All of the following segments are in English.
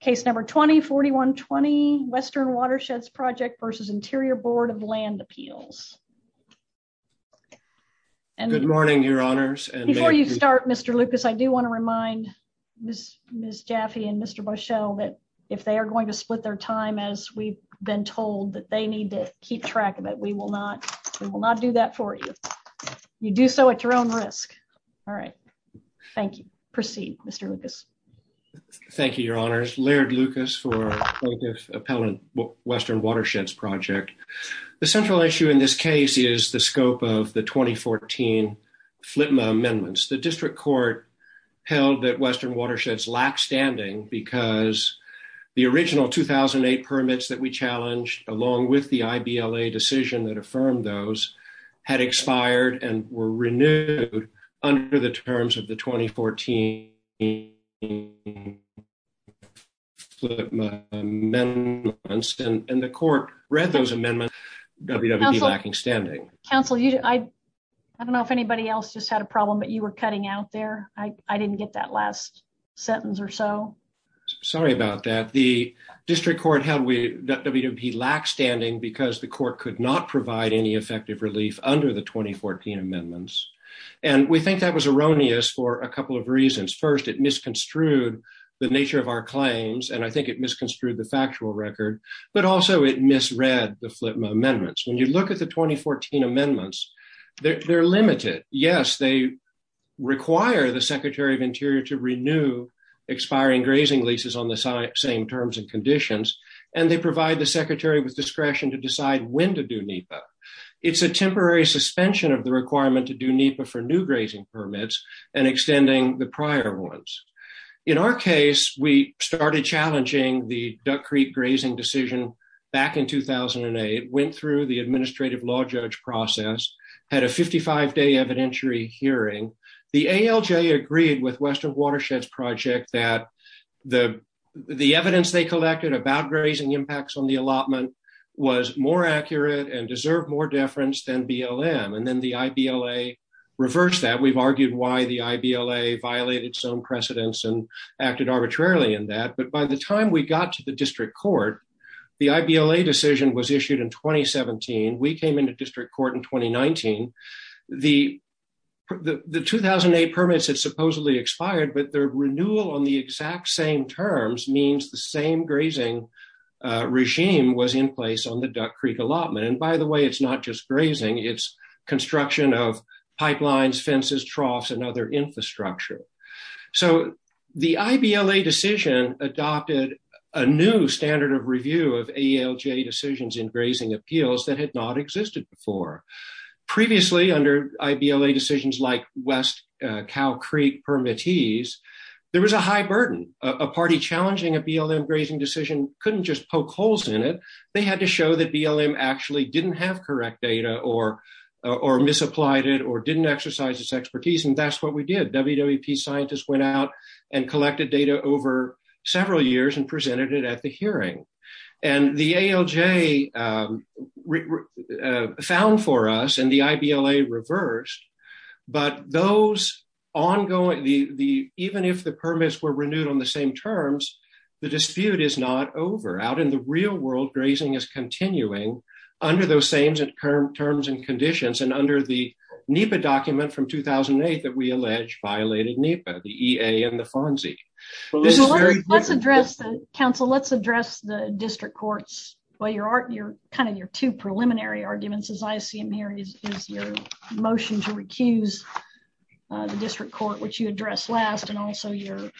Case number 20-41-20 Western Watersheds Project versus Interior Board of Land Appeals. Good morning, your honors. Before you start, Mr. Lucas, I do want to remind Ms. Jaffe and Mr. Boeschel that if they are going to split their time, as we've been told, that they need to keep track of it. We will not do that for you. You do so at your own risk. All right, thank you. Proceed, Mr. Lucas. Thank you, your honors. Laird Lucas for Appellant Western Watersheds Project. The central issue in this case is the scope of the 2014 FLTMA amendments. The district court held that Western Watersheds lacked standing because the original 2008 permits that we challenged, along with the IBLA decision that affirmed those, had expired and were renewed under the terms of the 2014 FLTMA amendments. And the court read those amendments, WWP lacking standing. Counsel, I don't know if anybody else just had a problem, but you were cutting out there. I didn't get that last sentence or so. Sorry about that. The district court held that WWP lacked standing because the under the 2014 amendments. And we think that was erroneous for a couple of reasons. First, it misconstrued the nature of our claims, and I think it misconstrued the factual record, but also it misread the FLTMA amendments. When you look at the 2014 amendments, they're limited. Yes, they require the Secretary of Interior to renew expiring grazing leases on the same terms and conditions, and they provide the Secretary with discretion to decide when to NEPA. It's a temporary suspension of the requirement to do NEPA for new grazing permits and extending the prior ones. In our case, we started challenging the Duck Creek grazing decision back in 2008, went through the administrative law judge process, had a 55-day evidentiary hearing. The ALJ agreed with Western Watersheds Project that the evidence they collected about grazing impacts on the allotment was more accurate and deserved more deference than BLM. And then the IBLA reversed that. We've argued why the IBLA violated its own precedents and acted arbitrarily in that. But by the time we got to the district court, the IBLA decision was issued in 2017. We came into district court in 2019. The 2008 permits had supposedly expired, but their renewal on the regime was in place on the Duck Creek allotment. And by the way, it's not just grazing, it's construction of pipelines, fences, troughs, and other infrastructure. So the IBLA decision adopted a new standard of review of ALJ decisions in grazing appeals that had not existed before. Previously, under IBLA decisions like West Cow Creek permittees, there was a high burden. A party challenging a BLM grazing decision couldn't just poke holes in it. They had to show that BLM actually didn't have correct data or misapplied it or didn't exercise its expertise. And that's what we did. WWP scientists went out and collected data over several years and presented it at the hearing. And the ALJ found for us and the IBLA reversed. But those ongoing, even if the permits were renewed on the same terms, the dispute is not over. Out in the real world, grazing is continuing under those same terms and conditions and under the NEPA document from 2008 that we allege violated NEPA, the EA and the FONSI. Let's address the district courts. Your two preliminary arguments, as I see them here, is your motion to recuse the district court, which you the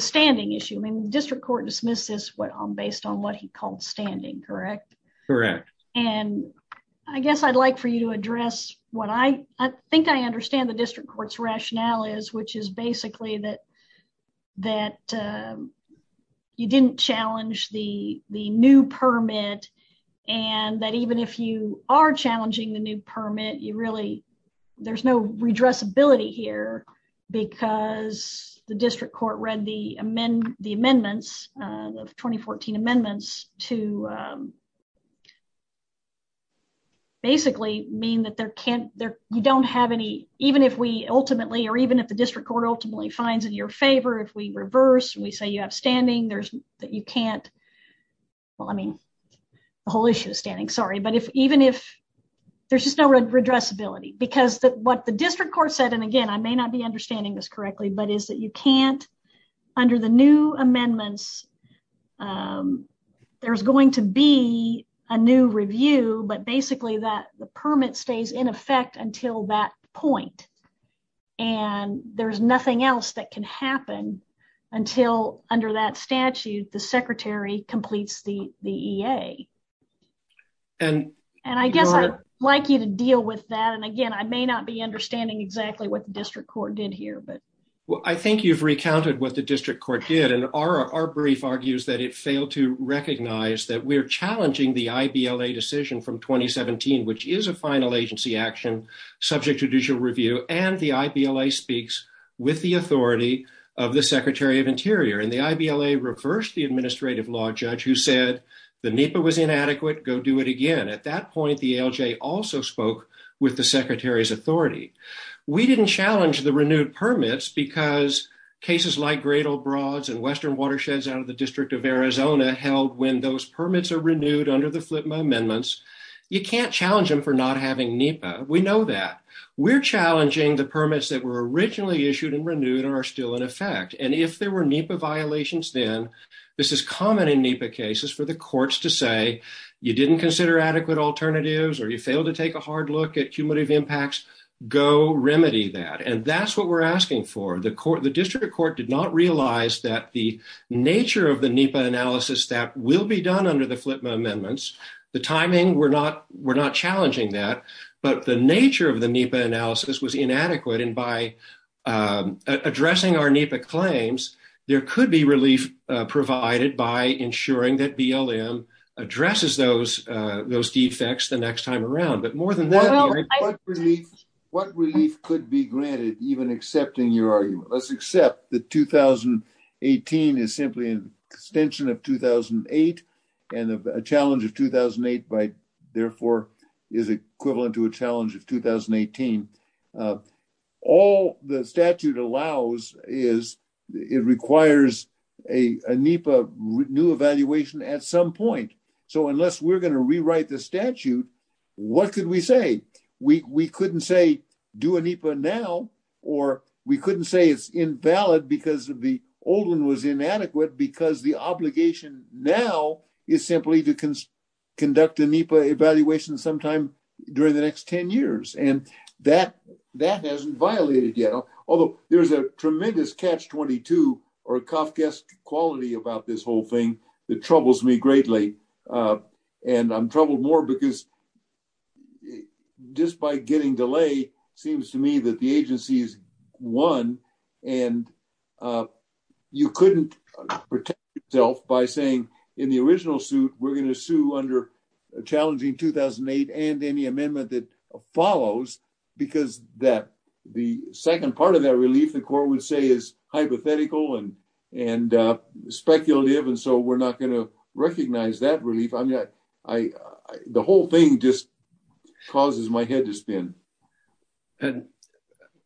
standing issue. I mean, the district court dismissed this based on what he called standing, correct? Correct. And I guess I'd like for you to address what I think I understand the district court's rationale is, which is basically that that you didn't challenge the the new permit and that even if you are challenging the new permit, you really there's no redressability here because the district court read the amendments of 2014 amendments to basically mean that you don't have any, even if we ultimately or even if the district court ultimately finds in your favor, if we reverse, we say you have standing, there's that you can't. Well, I mean, the whole issue of standing. Sorry. But even if there's just no redressability, because what the district court said, and again, I may not be understanding this correctly, but is that you can't under the new amendments, there's going to be a new review, but basically that the permit stays in effect until that point. And there's nothing else that can happen until under that statute, the secretary completes the EA. And I guess I'd like you to deal with that. And again, I may not be understanding exactly what the district court did here, but. Well, I think you've recounted what the district court did. And our brief argues that it failed to recognize that we're challenging the I.B.L.A. decision from 2017, which is a final agency action subject to judicial review. And the I.B.L.A. speaks with the authority of the secretary of interior and the I.B.L.A. reversed the administrative law judge who said the NEPA was inadequate. Go do it again. At that point, the ALJ also spoke with the secretary's authority. We didn't challenge the renewed permits because cases like Great Old Broads and Western Watersheds out of the District of Arizona held when those permits are renewed under the FLIPMA amendments, you can't challenge them for not having NEPA. We know that. We're challenging the permits that were originally issued and renewed are still in effect. And if there were NEPA violations, then this is common in NEPA cases for the courts to say you didn't consider adequate alternatives or you failed to take a hard look at cumulative impacts. Go remedy that. And that's what we're asking for. The court, the district court did not realize that the nature of the NEPA analysis that will be done under the FLIPMA amendments, the timing, we're not we're not challenging that. But the nature of the NEPA is to ensure that BLM addresses those those defects the next time around. But more than that, what relief could be granted even accepting your argument? Let's accept that 2018 is simply an extension of 2008 and a challenge of 2008 by therefore is equivalent to a challenge of 2018. All the statute allows is it requires a NEPA new evaluation at some point. So unless we're going to rewrite the statute, what could we say? We couldn't say do a NEPA now or we couldn't say it's invalid because of the old one was inadequate because the obligation now is simply to conduct NEPA evaluation sometime during the next 10 years. And that that hasn't violated yet, although there's a tremendous catch 22 or Kafka's quality about this whole thing that troubles me greatly. And I'm troubled more because just by getting delay seems to me that the agency's won and you couldn't protect yourself by saying in the original suit, we're going to sue under a challenging 2008 and any amendment that follows because that the second part of that relief, the court would say is hypothetical and speculative. And so we're not going to recognize that relief. I mean, the whole thing just causes my head to spin. And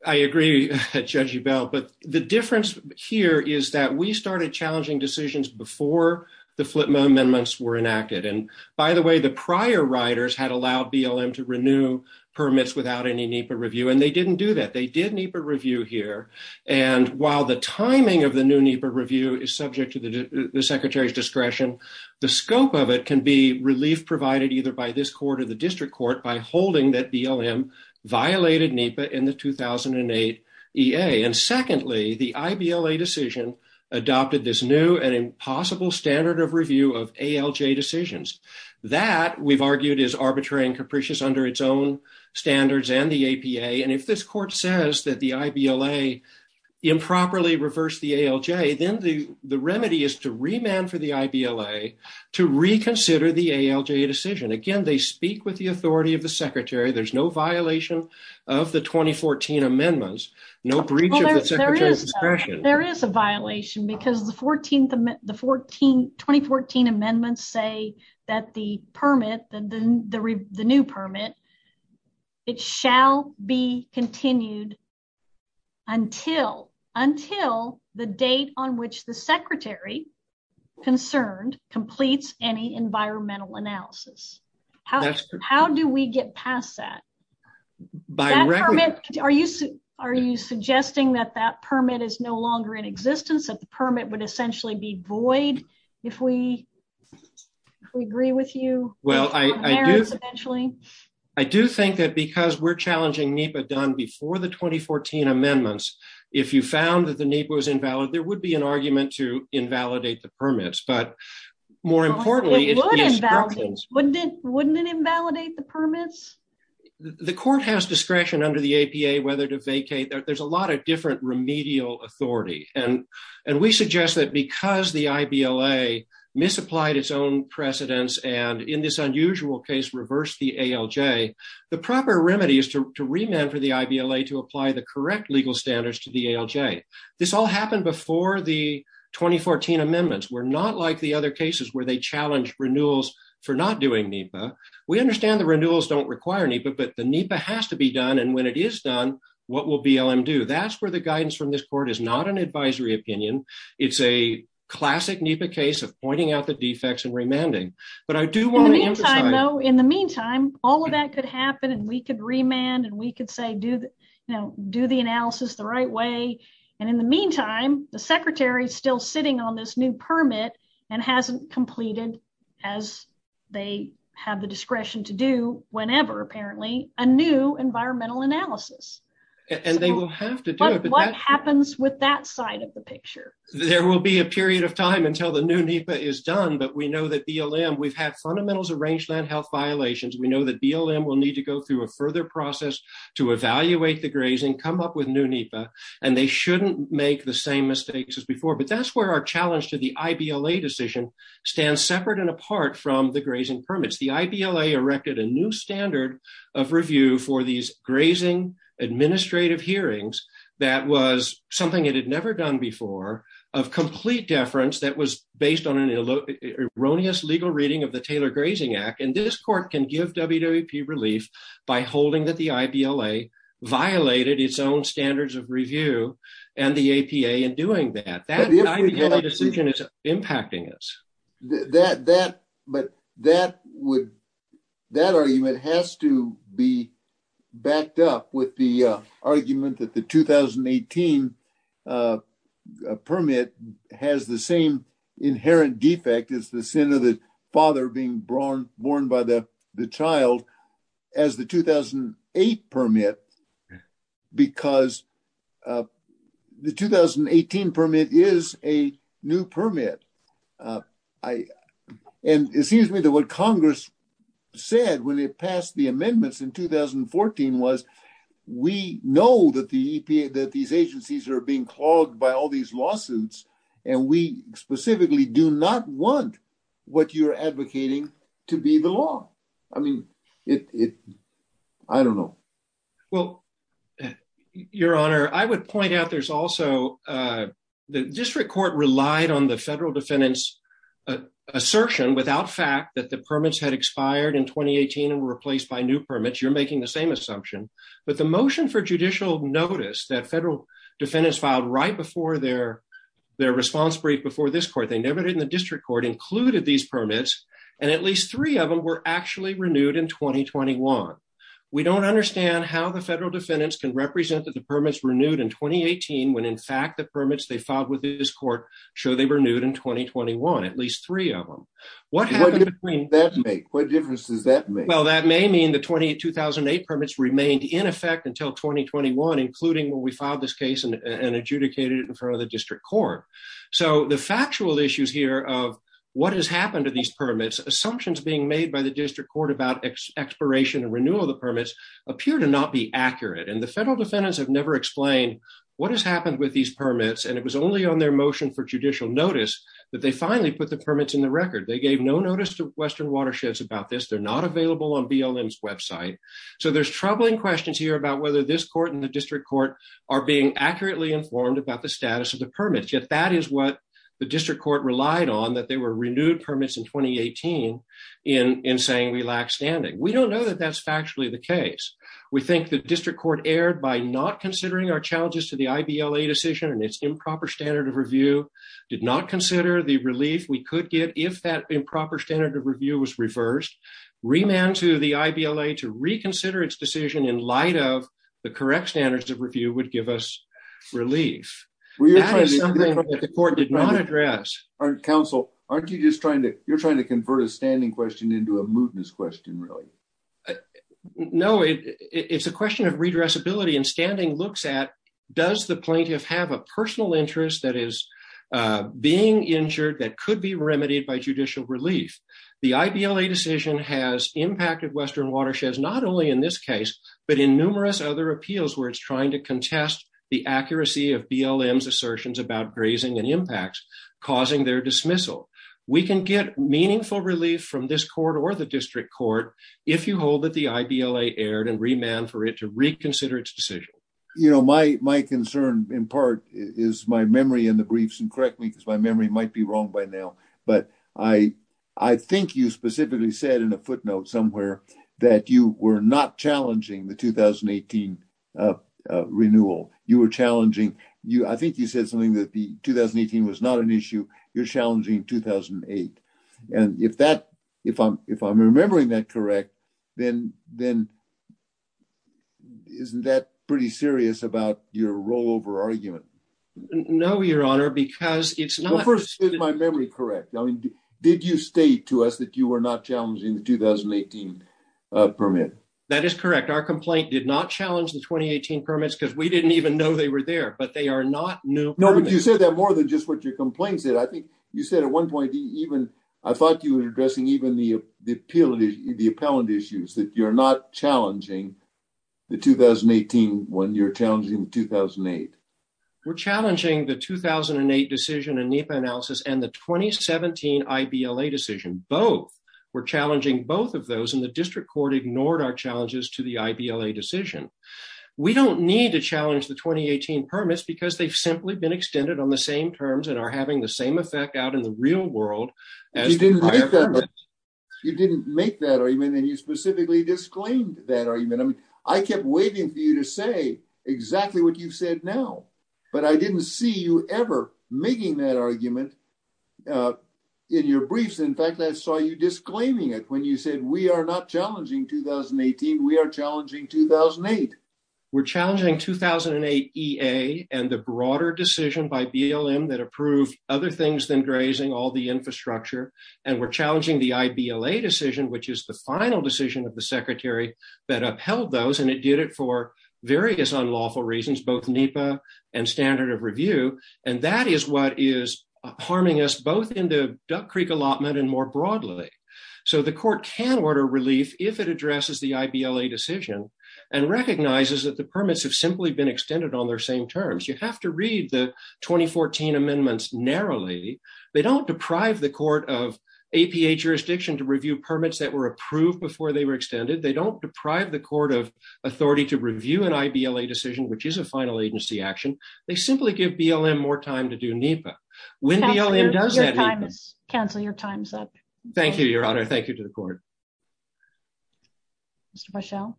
I agree, Judge Ebel, but the difference here is that we started challenging decisions before the flip amendments were enacted. And by the way, the prior riders had allowed BLM to renew permits without any NEPA review, and they didn't do that. They did NEPA review here. And while the timing of the new NEPA review is subject to the secretary's discretion, the scope of it can be relief provided either by this court or the district court by holding that BLM violated NEPA in the 2008 EA. And secondly, the IBLA decision adopted this new and impossible standard of review of ALJ decisions. That we've argued is arbitrary and capricious under its own standards and the APA. And if this court says that the IBLA improperly reversed the ALJ, then the remedy is to remand for the IBLA to reconsider the ALJ decision. Again, they speak with the authority of the secretary. There's no reach of the secretary's discretion. There is a violation because the 2014 amendments say that the permit, the new permit, it shall be continued until the date on which the secretary concerned completes any environmental analysis. How do we get past that? By recommending... Are you suggesting that that permit is no longer in existence, that the permit would essentially be void if we agree with you? Well, I do think that because we're challenging NEPA done before the 2014 amendments, if you found that the NEPA was invalid, there would be an argument to invalidate the permits. But more importantly... Wouldn't it invalidate the permits? The court has discretion under the APA whether to vacate. There's a lot of different remedial authority. And we suggest that because the IBLA misapplied its own precedents, and in this unusual case, reversed the ALJ, the proper remedy is to remand for the IBLA to apply the correct legal standards to the ALJ. This all happened before the 2014 amendments. We're not the other cases where they challenged renewals for not doing NEPA. We understand the renewals don't require NEPA, but the NEPA has to be done. And when it is done, what will BLM do? That's where the guidance from this court is not an advisory opinion. It's a classic NEPA case of pointing out the defects and remanding. But I do want to emphasize... In the meantime, all of that could happen, and we could remand, and we could say, do the analysis the right way. And in the meantime, the secretary is still sitting on this new permit and hasn't completed, as they have the discretion to do whenever, apparently, a new environmental analysis. And they will have to do it. What happens with that side of the picture? There will be a period of time until the new NEPA is done, but we know that BLM... We've had fundamentals of rangeland health violations. We know that BLM will need to go through a further process to evaluate the grazing, come up with new NEPA, and they shouldn't make the same mistakes as before. But that's where our challenge to the IBLA decision stands separate and apart from the grazing permits. The IBLA erected a new standard of review for these grazing administrative hearings that was something it had never done before, of complete deference that was based on an erroneous legal reading of the Taylor Grazing Act. And this court can give WWP relief by holding that the IBLA violated its own standards of review and the APA in doing that. That IBLA decision is impacting us. But that argument has to be backed up with the argument that the 2018 permit has the same inherent defect as the sin of the father being born by the child as the 2008 permit, because the 2018 permit is a new permit. And it seems to me that what Congress said when it passed the amendments in 2014 was, we know that the EPA, that these agencies are being clogged by all these lawsuits. And we specifically do not want what you're advocating to be the law. I mean, it, I don't know. Well, Your Honor, I would point out there's also the district court relied on the federal defendants assertion without fact that the in 2018 and replaced by new permits, you're making the same assumption, but the motion for judicial notice that federal defendants filed right before their, their response brief before this court, they never did in the district court included these permits. And at least three of them were actually renewed in 2021. We don't understand how the federal defendants can represent that the permits renewed in 2018, when in fact, the permits they filed with this court show they renewed in 2021, at least three of them. What difference does that make? Well, that may mean the 20 2008 permits remained in effect until 2021, including when we filed this case and adjudicated it in front of the district court. So the factual issues here of what has happened to these permits, assumptions being made by the district court about expiration and renewal of the permits appear to not be accurate. And the federal defendants have never explained what has happened with these permits. And it was only on their motion for judicial notice that they finally put the permits in the record. They gave no notice to Western watersheds about this. They're not available on BLM's website. So there's troubling questions here about whether this court and the district court are being accurately informed about the status of the permits. Yet that is what the district court relied on that they were renewed permits in 2018. In saying we lack standing, we don't know that that's factually the case. We think the district court erred by not considering our challenges to the IBLA decision and its improper standard of review, did not consider the relief we could get if that improper standard of review was reversed. Remand to the IBLA to reconsider its decision in light of the correct standards of review would give us relief. That is something that the court did not address. Council, aren't you just trying to, you're trying to convert a standing question into a mootness question, really? No, it's a question of redressability and standing looks at does the plaintiff have a personal interest that is being injured that could be remedied by judicial relief. The IBLA decision has impacted Western watersheds, not only in this case, but in numerous other appeals where it's trying to contest the accuracy of BLM's assertions about grazing and impacts causing their dismissal. We can get meaningful relief from this court or the district court if you hold that the IBLA erred and remand for it to reconsider its decision. You know, my concern in part is my memory in the briefs, and correct me because my memory might be wrong by now, but I think you specifically said in a footnote somewhere that you were not challenging the 2018 renewal. You were challenging, I think you said something that the 2018 was not an issue, you're challenging 2008. And if that, if I'm remembering that correct, then isn't that pretty serious about your rollover argument? No, your honor, because it's not. First, is my memory correct? I mean, did you state to us that you were not challenging the 2018 permit? That is correct. Our complaint did not challenge the 2018 permits because we didn't even know they were there, but they are not new. No, but you said that more than just what your complaint said. I think you said at one point even, I thought you were addressing even the appeal, the appellant issues, that you're not challenging the 2018 when you're challenging 2008. We're challenging the 2008 decision in NEPA analysis and the 2017 IBLA decision. Both. We're challenging both of those and the district court ignored our challenges to the IBLA decision. We don't need to challenge the 2018 permits because they've simply been extended on the same terms and are having the same effect out in the real world. You didn't make that argument and you specifically disclaimed that argument. I mean, I kept waiting for you to say exactly what you said now, but I didn't see you ever making that argument in your briefs. In fact, I saw you disclaiming it when you said we are not challenging 2018, we are challenging 2008. We're challenging 2008 EA and the broader decision by BLM that approved other things than grazing, all the infrastructure. And we're challenging the IBLA decision, which is the final decision of the secretary that upheld those. And it did it for various unlawful reasons, both NEPA and standard of review. And that is what is harming us both in the Duck Creek allotment and more broadly. So the court can order relief if it addresses the IBLA decision and recognizes that the permits have simply been extended on their same terms. You have to read the 2014 amendments narrowly. They don't deprive the court of APA jurisdiction to review permits that were approved before they were extended. They don't deprive the court of authority to review an IBLA decision, which is a final agency action. They simply give BLM more time to do NEPA. When BLM does NEPA... Counselor, your time is up. Thank you, Your Honor. Thank you to the court. Mr. Bushell.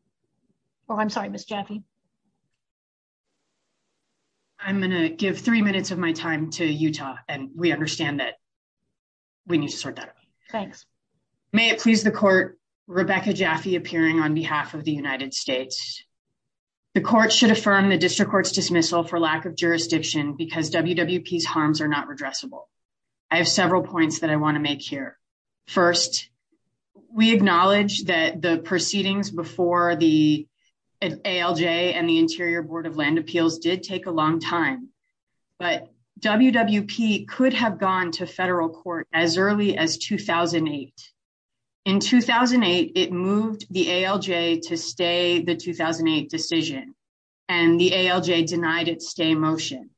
Oh, I'm sorry, Ms. Jaffe. I'm going to give three minutes of my time to Utah. And we understand that we need to sort that out. Thanks. May it please the court, Rebecca Jaffe appearing on behalf of the United States. The court should affirm the district court's dismissal for lack of jurisdiction because WWP's harms are not redressable. I have several points that I want to make here. First, we acknowledge that the proceedings before the ALJ and the Interior Board of Land Appeals did take a long time. But WWP could have gone to federal court as early as 2008. In 2008, it moved the ALJ to stay the 2008 decision. And the ALJ denied its stay motion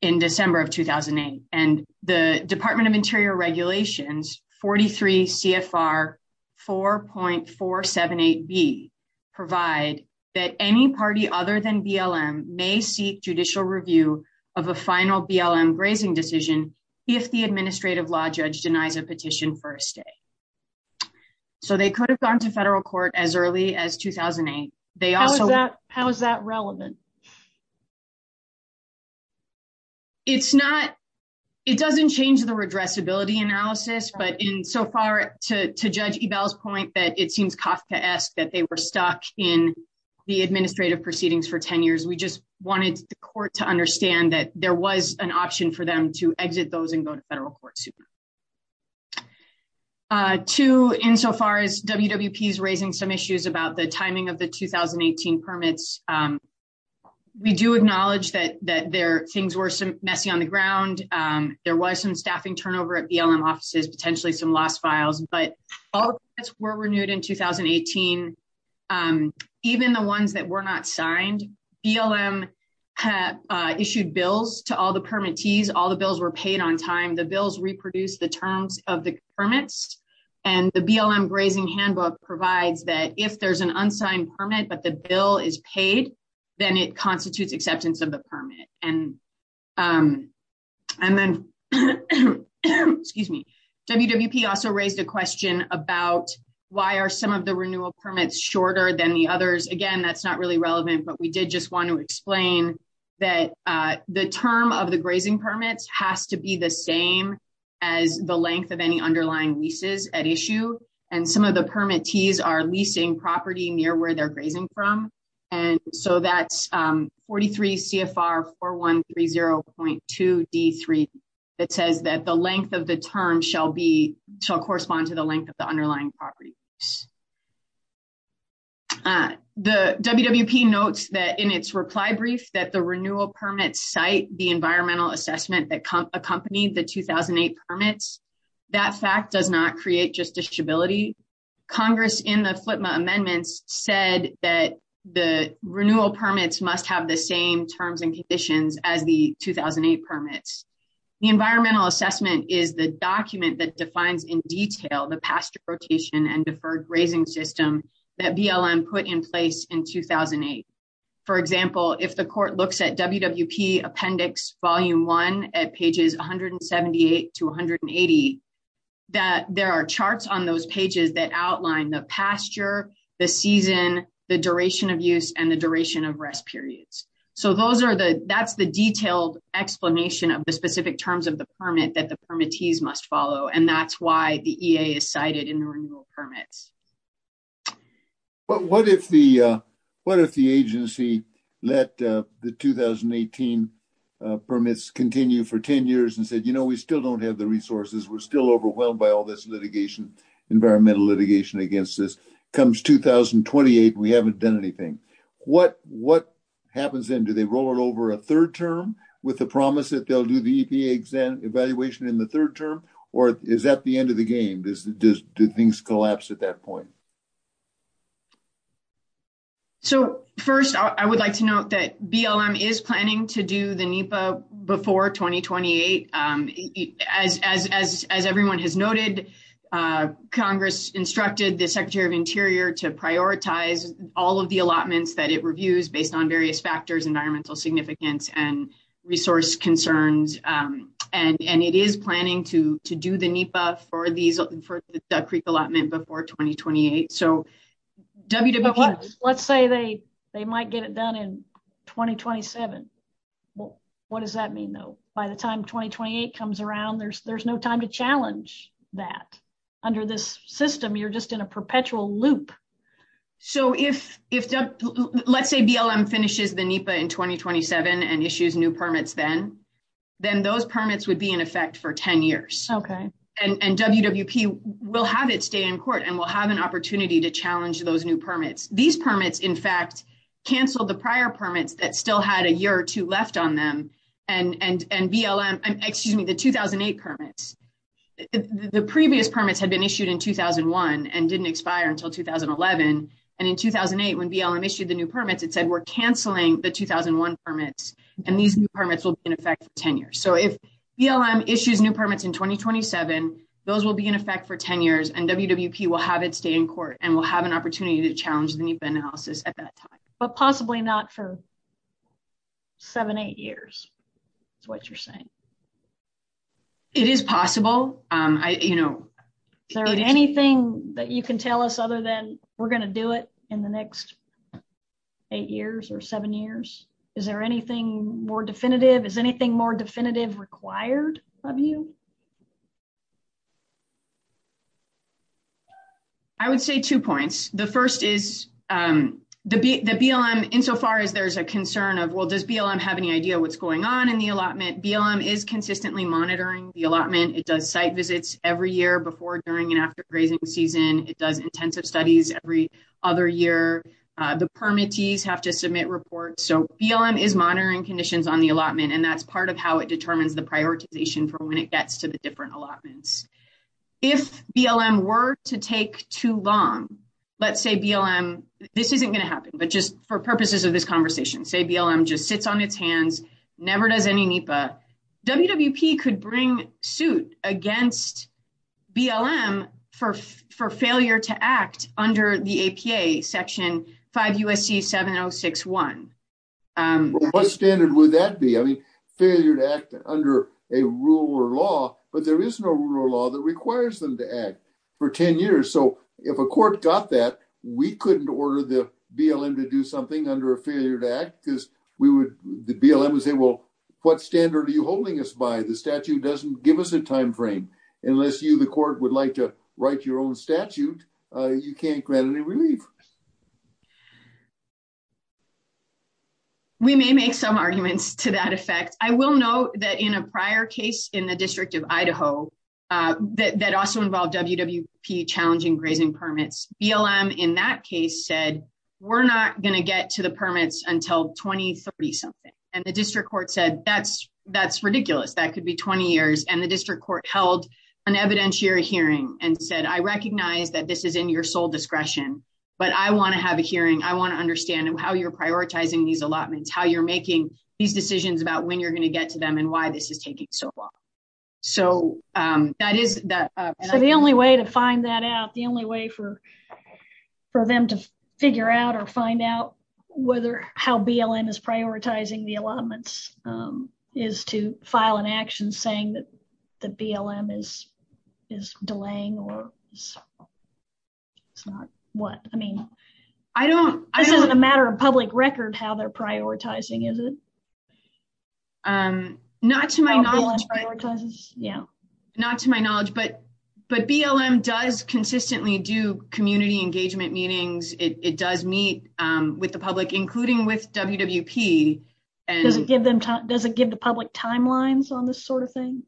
in December of 2008. And the Department of Interior Regulations 43 CFR 4.478B provide that any party other than BLM may seek judicial review of a final BLM grazing decision if the administrative law judge denies a petition for a stay. So they could have gone to federal court as early as 2008. How is that relevant? It's not. It doesn't change the redressability analysis. But in so far to Judge Ebell's point that it seems Kafkaesque that they were stuck in the administrative proceedings for 10 years. We just wanted the court to understand that there was an option for them to exit those and go to federal court. Two, in so far as WWP is raising some issues about the timing of the 2018 permits, we do acknowledge that things were some messy on the ground. There was some staffing turnover at BLM offices, potentially some lost files. But all permits were renewed in 2018. Even the ones that were not signed, BLM issued bills to all the permittees. All the bills were of the permits. And the BLM grazing handbook provides that if there's an unsigned permit, but the bill is paid, then it constitutes acceptance of the permit. And then, excuse me, WWP also raised a question about why are some of the renewal permits shorter than the others? Again, that's not really relevant. But we did just want to explain that the term of the grazing permits has to be the same as the length of any underlying leases at issue. And some of the permittees are leasing property near where they're grazing from. And so that's 43 CFR 4130.2 D3. It says that the length of the term shall be, shall correspond to the length of the underlying property. The WWP notes that in its reply brief that the renewal permits cite the environmental assessment that accompanied the 2008 permits. That fact does not create just disability. Congress in the FLTMA amendments said that the renewal permits must have the same terms and conditions as the 2008 permits. The environmental assessment is the document that defines in detail the pasture rotation and deferred grazing system that BLM put in place in 2008. For example, if the court looks at WWP appendix volume one at pages 178 to 180, that there are charts on those pages that outline the pasture, the season, the duration of use and the duration of rest periods. So those are the, that's the detailed explanation of the specific terms of the permit that the EPA has cited in the renewal permits. But what if the, what if the agency let the 2018 permits continue for 10 years and said, you know, we still don't have the resources. We're still overwhelmed by all this litigation, environmental litigation against this. Comes 2028, we haven't done anything. What happens then? Do they roll it over a third term with the promise that they'll do the EPA evaluation in the third term? Or is that the end of the game? Do things collapse at that point? So first, I would like to note that BLM is planning to do the NEPA before 2028. As everyone has noted, Congress instructed the Secretary of Interior to prioritize all of the allotments that reviews based on various factors, environmental significance and resource concerns. And it is planning to do the NEPA for these, for the Duck Creek allotment before 2028. So, WWPs. Let's say they might get it done in 2027. What does that mean though? By the time 2028 comes around, there's no time to challenge that. Under this system, you're just in a perpetual loop. So if, let's say BLM finishes the NEPA in 2027 and issues new permits then, then those permits would be in effect for 10 years. And WWP will have its day in court and will have an opportunity to challenge those new permits. These permits, in fact, canceled the prior permits that still had a year or two left on them. And BLM, excuse me, the 2008 permits, the previous permits had been issued in 2001 and didn't expire until 2011. And in 2008, when BLM issued the new permits, it said we're canceling the 2001 permits and these new permits will be in effect for 10 years. So if BLM issues new permits in 2027, those will be in effect for 10 years and WWP will have its day in court and will have an opportunity to challenge the NEPA analysis at that time. But possibly not for seven, eight years, is what you're saying. It is possible. I, you know. Is there anything that you can tell us other than we're going to do it in the next eight years or seven years? Is there anything more definitive? Is anything more definitive required of you? I would say two points. The first is the BLM, insofar as there's a concern of, well, BLM have any idea what's going on in the allotment? BLM is consistently monitoring the allotment. It does site visits every year before, during, and after grazing season. It does intensive studies every other year. The permittees have to submit reports. So BLM is monitoring conditions on the allotment and that's part of how it determines the prioritization for when it gets to the different allotments. If BLM were to take too long, let's say BLM, this isn't going to happen, but just for purposes of this conversation, say BLM just sits on its hands, never does any NEPA, WWP could bring suit against BLM for failure to act under the APA, Section 5 U.S.C. 7061. What standard would that be? I mean, failure to act under a rule or law, but there is no rule or law that requires them to act for 10 years. So if a court got that, we couldn't order the BLM to do something under a failure to act because the BLM would say, well, what standard are you holding us by? The statute doesn't give us a time frame. Unless you, the court, would like to write your own statute, you can't grant any relief. We may make some arguments to that effect. I will note that in a prior case in the District of Columbia, the District Court held an evidentiary hearing and said, I recognize that this is in your sole discretion, but I want to have a hearing. I want to understand how you're prioritizing these allotments, how you're making these decisions about when you're going to get to them and why this is taking so long. The only way to find that out, the only way for them to figure out or find out whether how BLM is prioritizing the allotments is to file an action saying that the BLM is delaying or it's not, what? I mean, this isn't a matter of public record how they're prioritizing, is it? Not to my knowledge, but BLM does consistently do community engagement meetings. It does meet with the public, including with WWP. Does it give the public timelines on this sort of thing?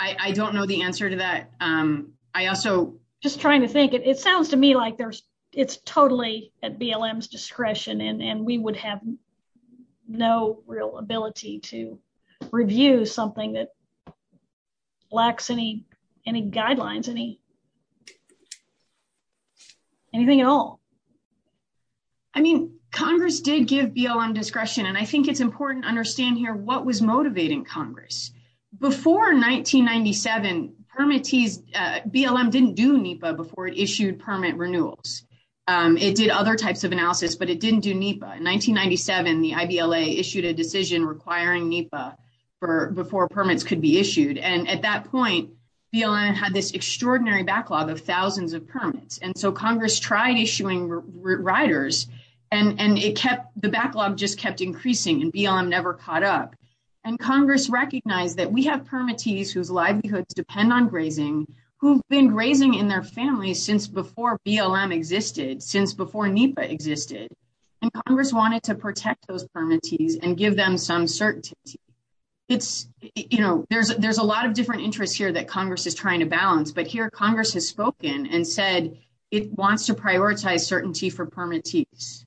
I don't know the answer to that. I also... Just trying to think. It sounds to me like it's totally at BLM's discretion and we would have no real ability to review something that lacks any guidelines, any anything at all. I mean, Congress did give BLM discretion, and I think it's important to understand here what was motivating Congress. Before 1997, BLM didn't do NEPA before it issued permit renewals. It did other types of analysis, but it didn't do NEPA. In 1997, the IBLA issued a decision requiring NEPA before permits could be issued, and at that point, BLM had this extraordinary backlog of thousands of permits, and so Congress tried issuing riders, and the backlog just kept increasing, and BLM never caught up. Congress recognized that we have permittees whose livelihoods depend on grazing, who've been grazing in their families since before BLM existed, since before NEPA existed, and Congress wanted to protect those permittees and give them some certainty. There's a lot of different interests here that Congress is trying to balance, but here Congress has spoken and said it wants to prioritize certainty for permittees.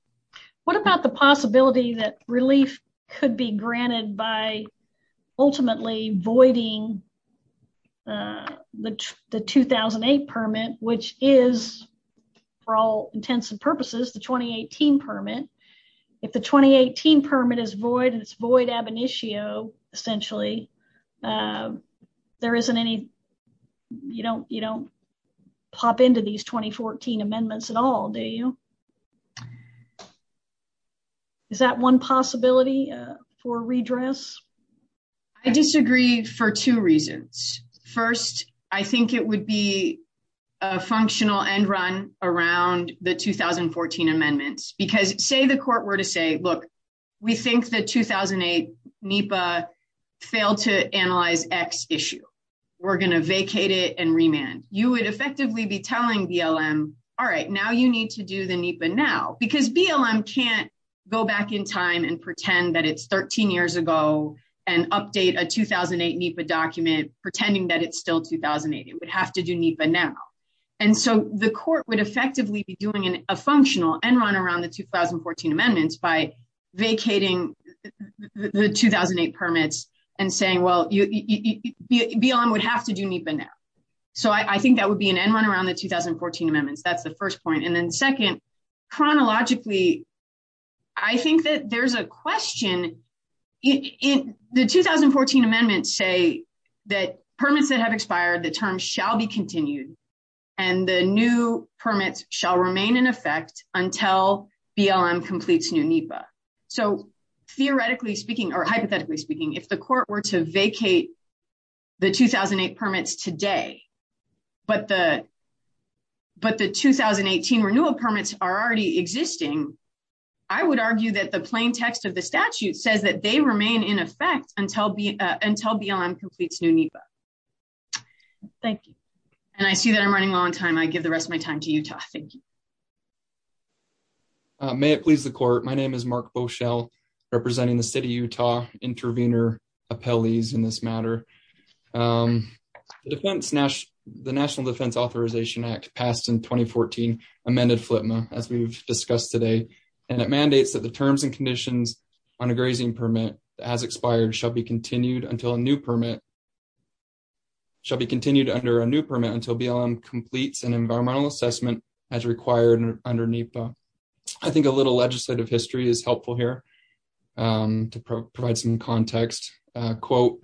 What about the possibility that relief could be granted by ultimately voiding the 2008 permit, which is, for all intents and purposes, the 2018 permit. If the 2018 permit is void and it's void ab initio, essentially, there isn't any, you don't pop into these 2014 amendments at all, do you? Is that one possibility for redress? I disagree for two reasons. First, I think it would be a functional end run around the 2014 amendments, because say the court were to say, look, we think the 2008 NEPA failed to analyze X issue. We're going to vacate it and remand. You would effectively be telling BLM, all right, now you need to do the NEPA now, because BLM can't go back in time and pretend that it's 13 years ago and update a 2008 NEPA document pretending that it's still 2008. It would have to do NEPA now. The court would effectively be doing a vacating the 2008 permits and saying, well, BLM would have to do NEPA now. I think that would be an end run around the 2014 amendments. That's the first point. Then second, chronologically, I think that there's a question. The 2014 amendments say that permits that have expired, the term shall be continued and the new permits shall remain in NEPA. Theoretically speaking or hypothetically speaking, if the court were to vacate the 2008 permits today, but the 2018 renewal permits are already existing, I would argue that the plain text of the statute says that they remain in effect until BLM completes new NEPA. Thank you. I see that I'm running low on time. I give the rest of my time to Utah. Thank you. May it please the court. My name is Mark Beauchelle, representing the city of Utah, intervenor, appellees in this matter. The National Defense Authorization Act passed in 2014 amended FLTMA, as we've discussed today, and it mandates that the terms and conditions on a grazing permit that has expired shall be continued under a new permit until BLM completes an environmental assessment as required under NEPA. I think a little legislative history is helpful here to provide some context. Quote,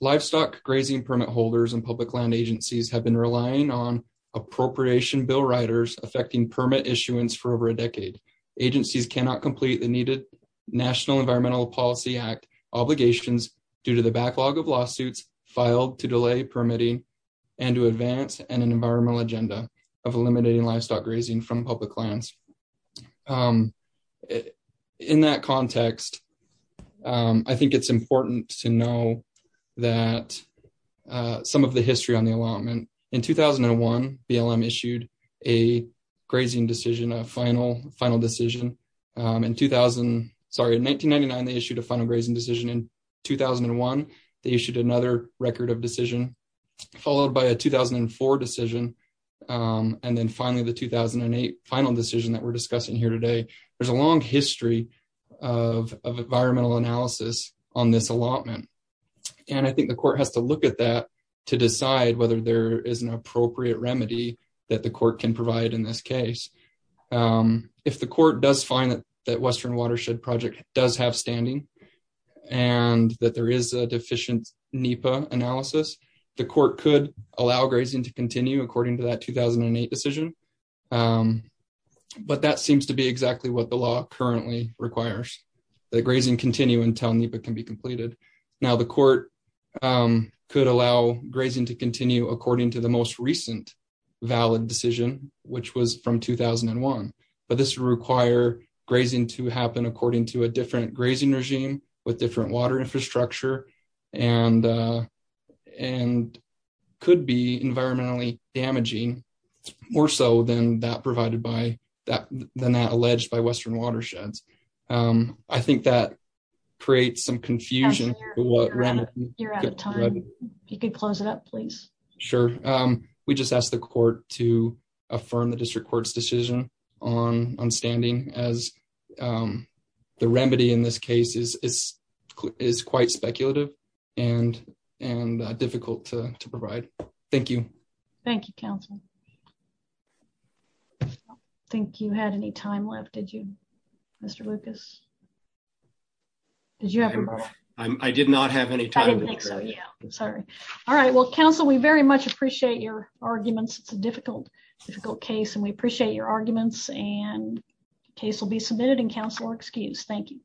livestock grazing permit holders and public land agencies have been relying on appropriation bill riders affecting permit issuance for over a decade. Agencies cannot complete the needed National Environmental Policy Act obligations due to the backlog of lawsuits filed to delay permitting and to advance an environmental agenda of eliminating livestock grazing from public lands. In that context, I think it's important to know that some of the history on the allotment. In 2001, BLM issued a grazing decision, a final decision. In 2000, sorry, in 1999, they issued a final grazing decision. In 2001, they issued another record of decision, followed by a 2004 decision. And then finally, the 2008 final decision that we're discussing here today. There's a long history of environmental analysis on this allotment. And I think the court has to look at that to decide whether there is an appropriate remedy that the court can provide in this case. If the court does find that Western Watershed Project does have standing, and that there is a deficient NEPA analysis, the court could allow grazing to continue according to that 2008 decision. But that seems to be exactly what the law currently requires, that grazing continue until NEPA can be completed. Now the court could allow grazing to continue according to the most recent valid decision, which was from 2001. But this require grazing to happen according to a different grazing regime with different water infrastructure and could be environmentally damaging more so than that alleged by Western Watersheds. I think that creates some confusion. You're out of time. You could close it up, please. Sure. We just asked the court to affirm the district court's decision on standing as the remedy in this case is quite speculative and difficult to provide. Thank you. Thank you, counsel. I don't think you had any time left, did you, Mr. Lucas? Did you have any more? I did not have any time. Sorry. All right. Well, counsel, we very much appreciate your arguments. It's a difficult difficult case, and we appreciate your arguments. The case will be submitted and counsel are excused. Thank you.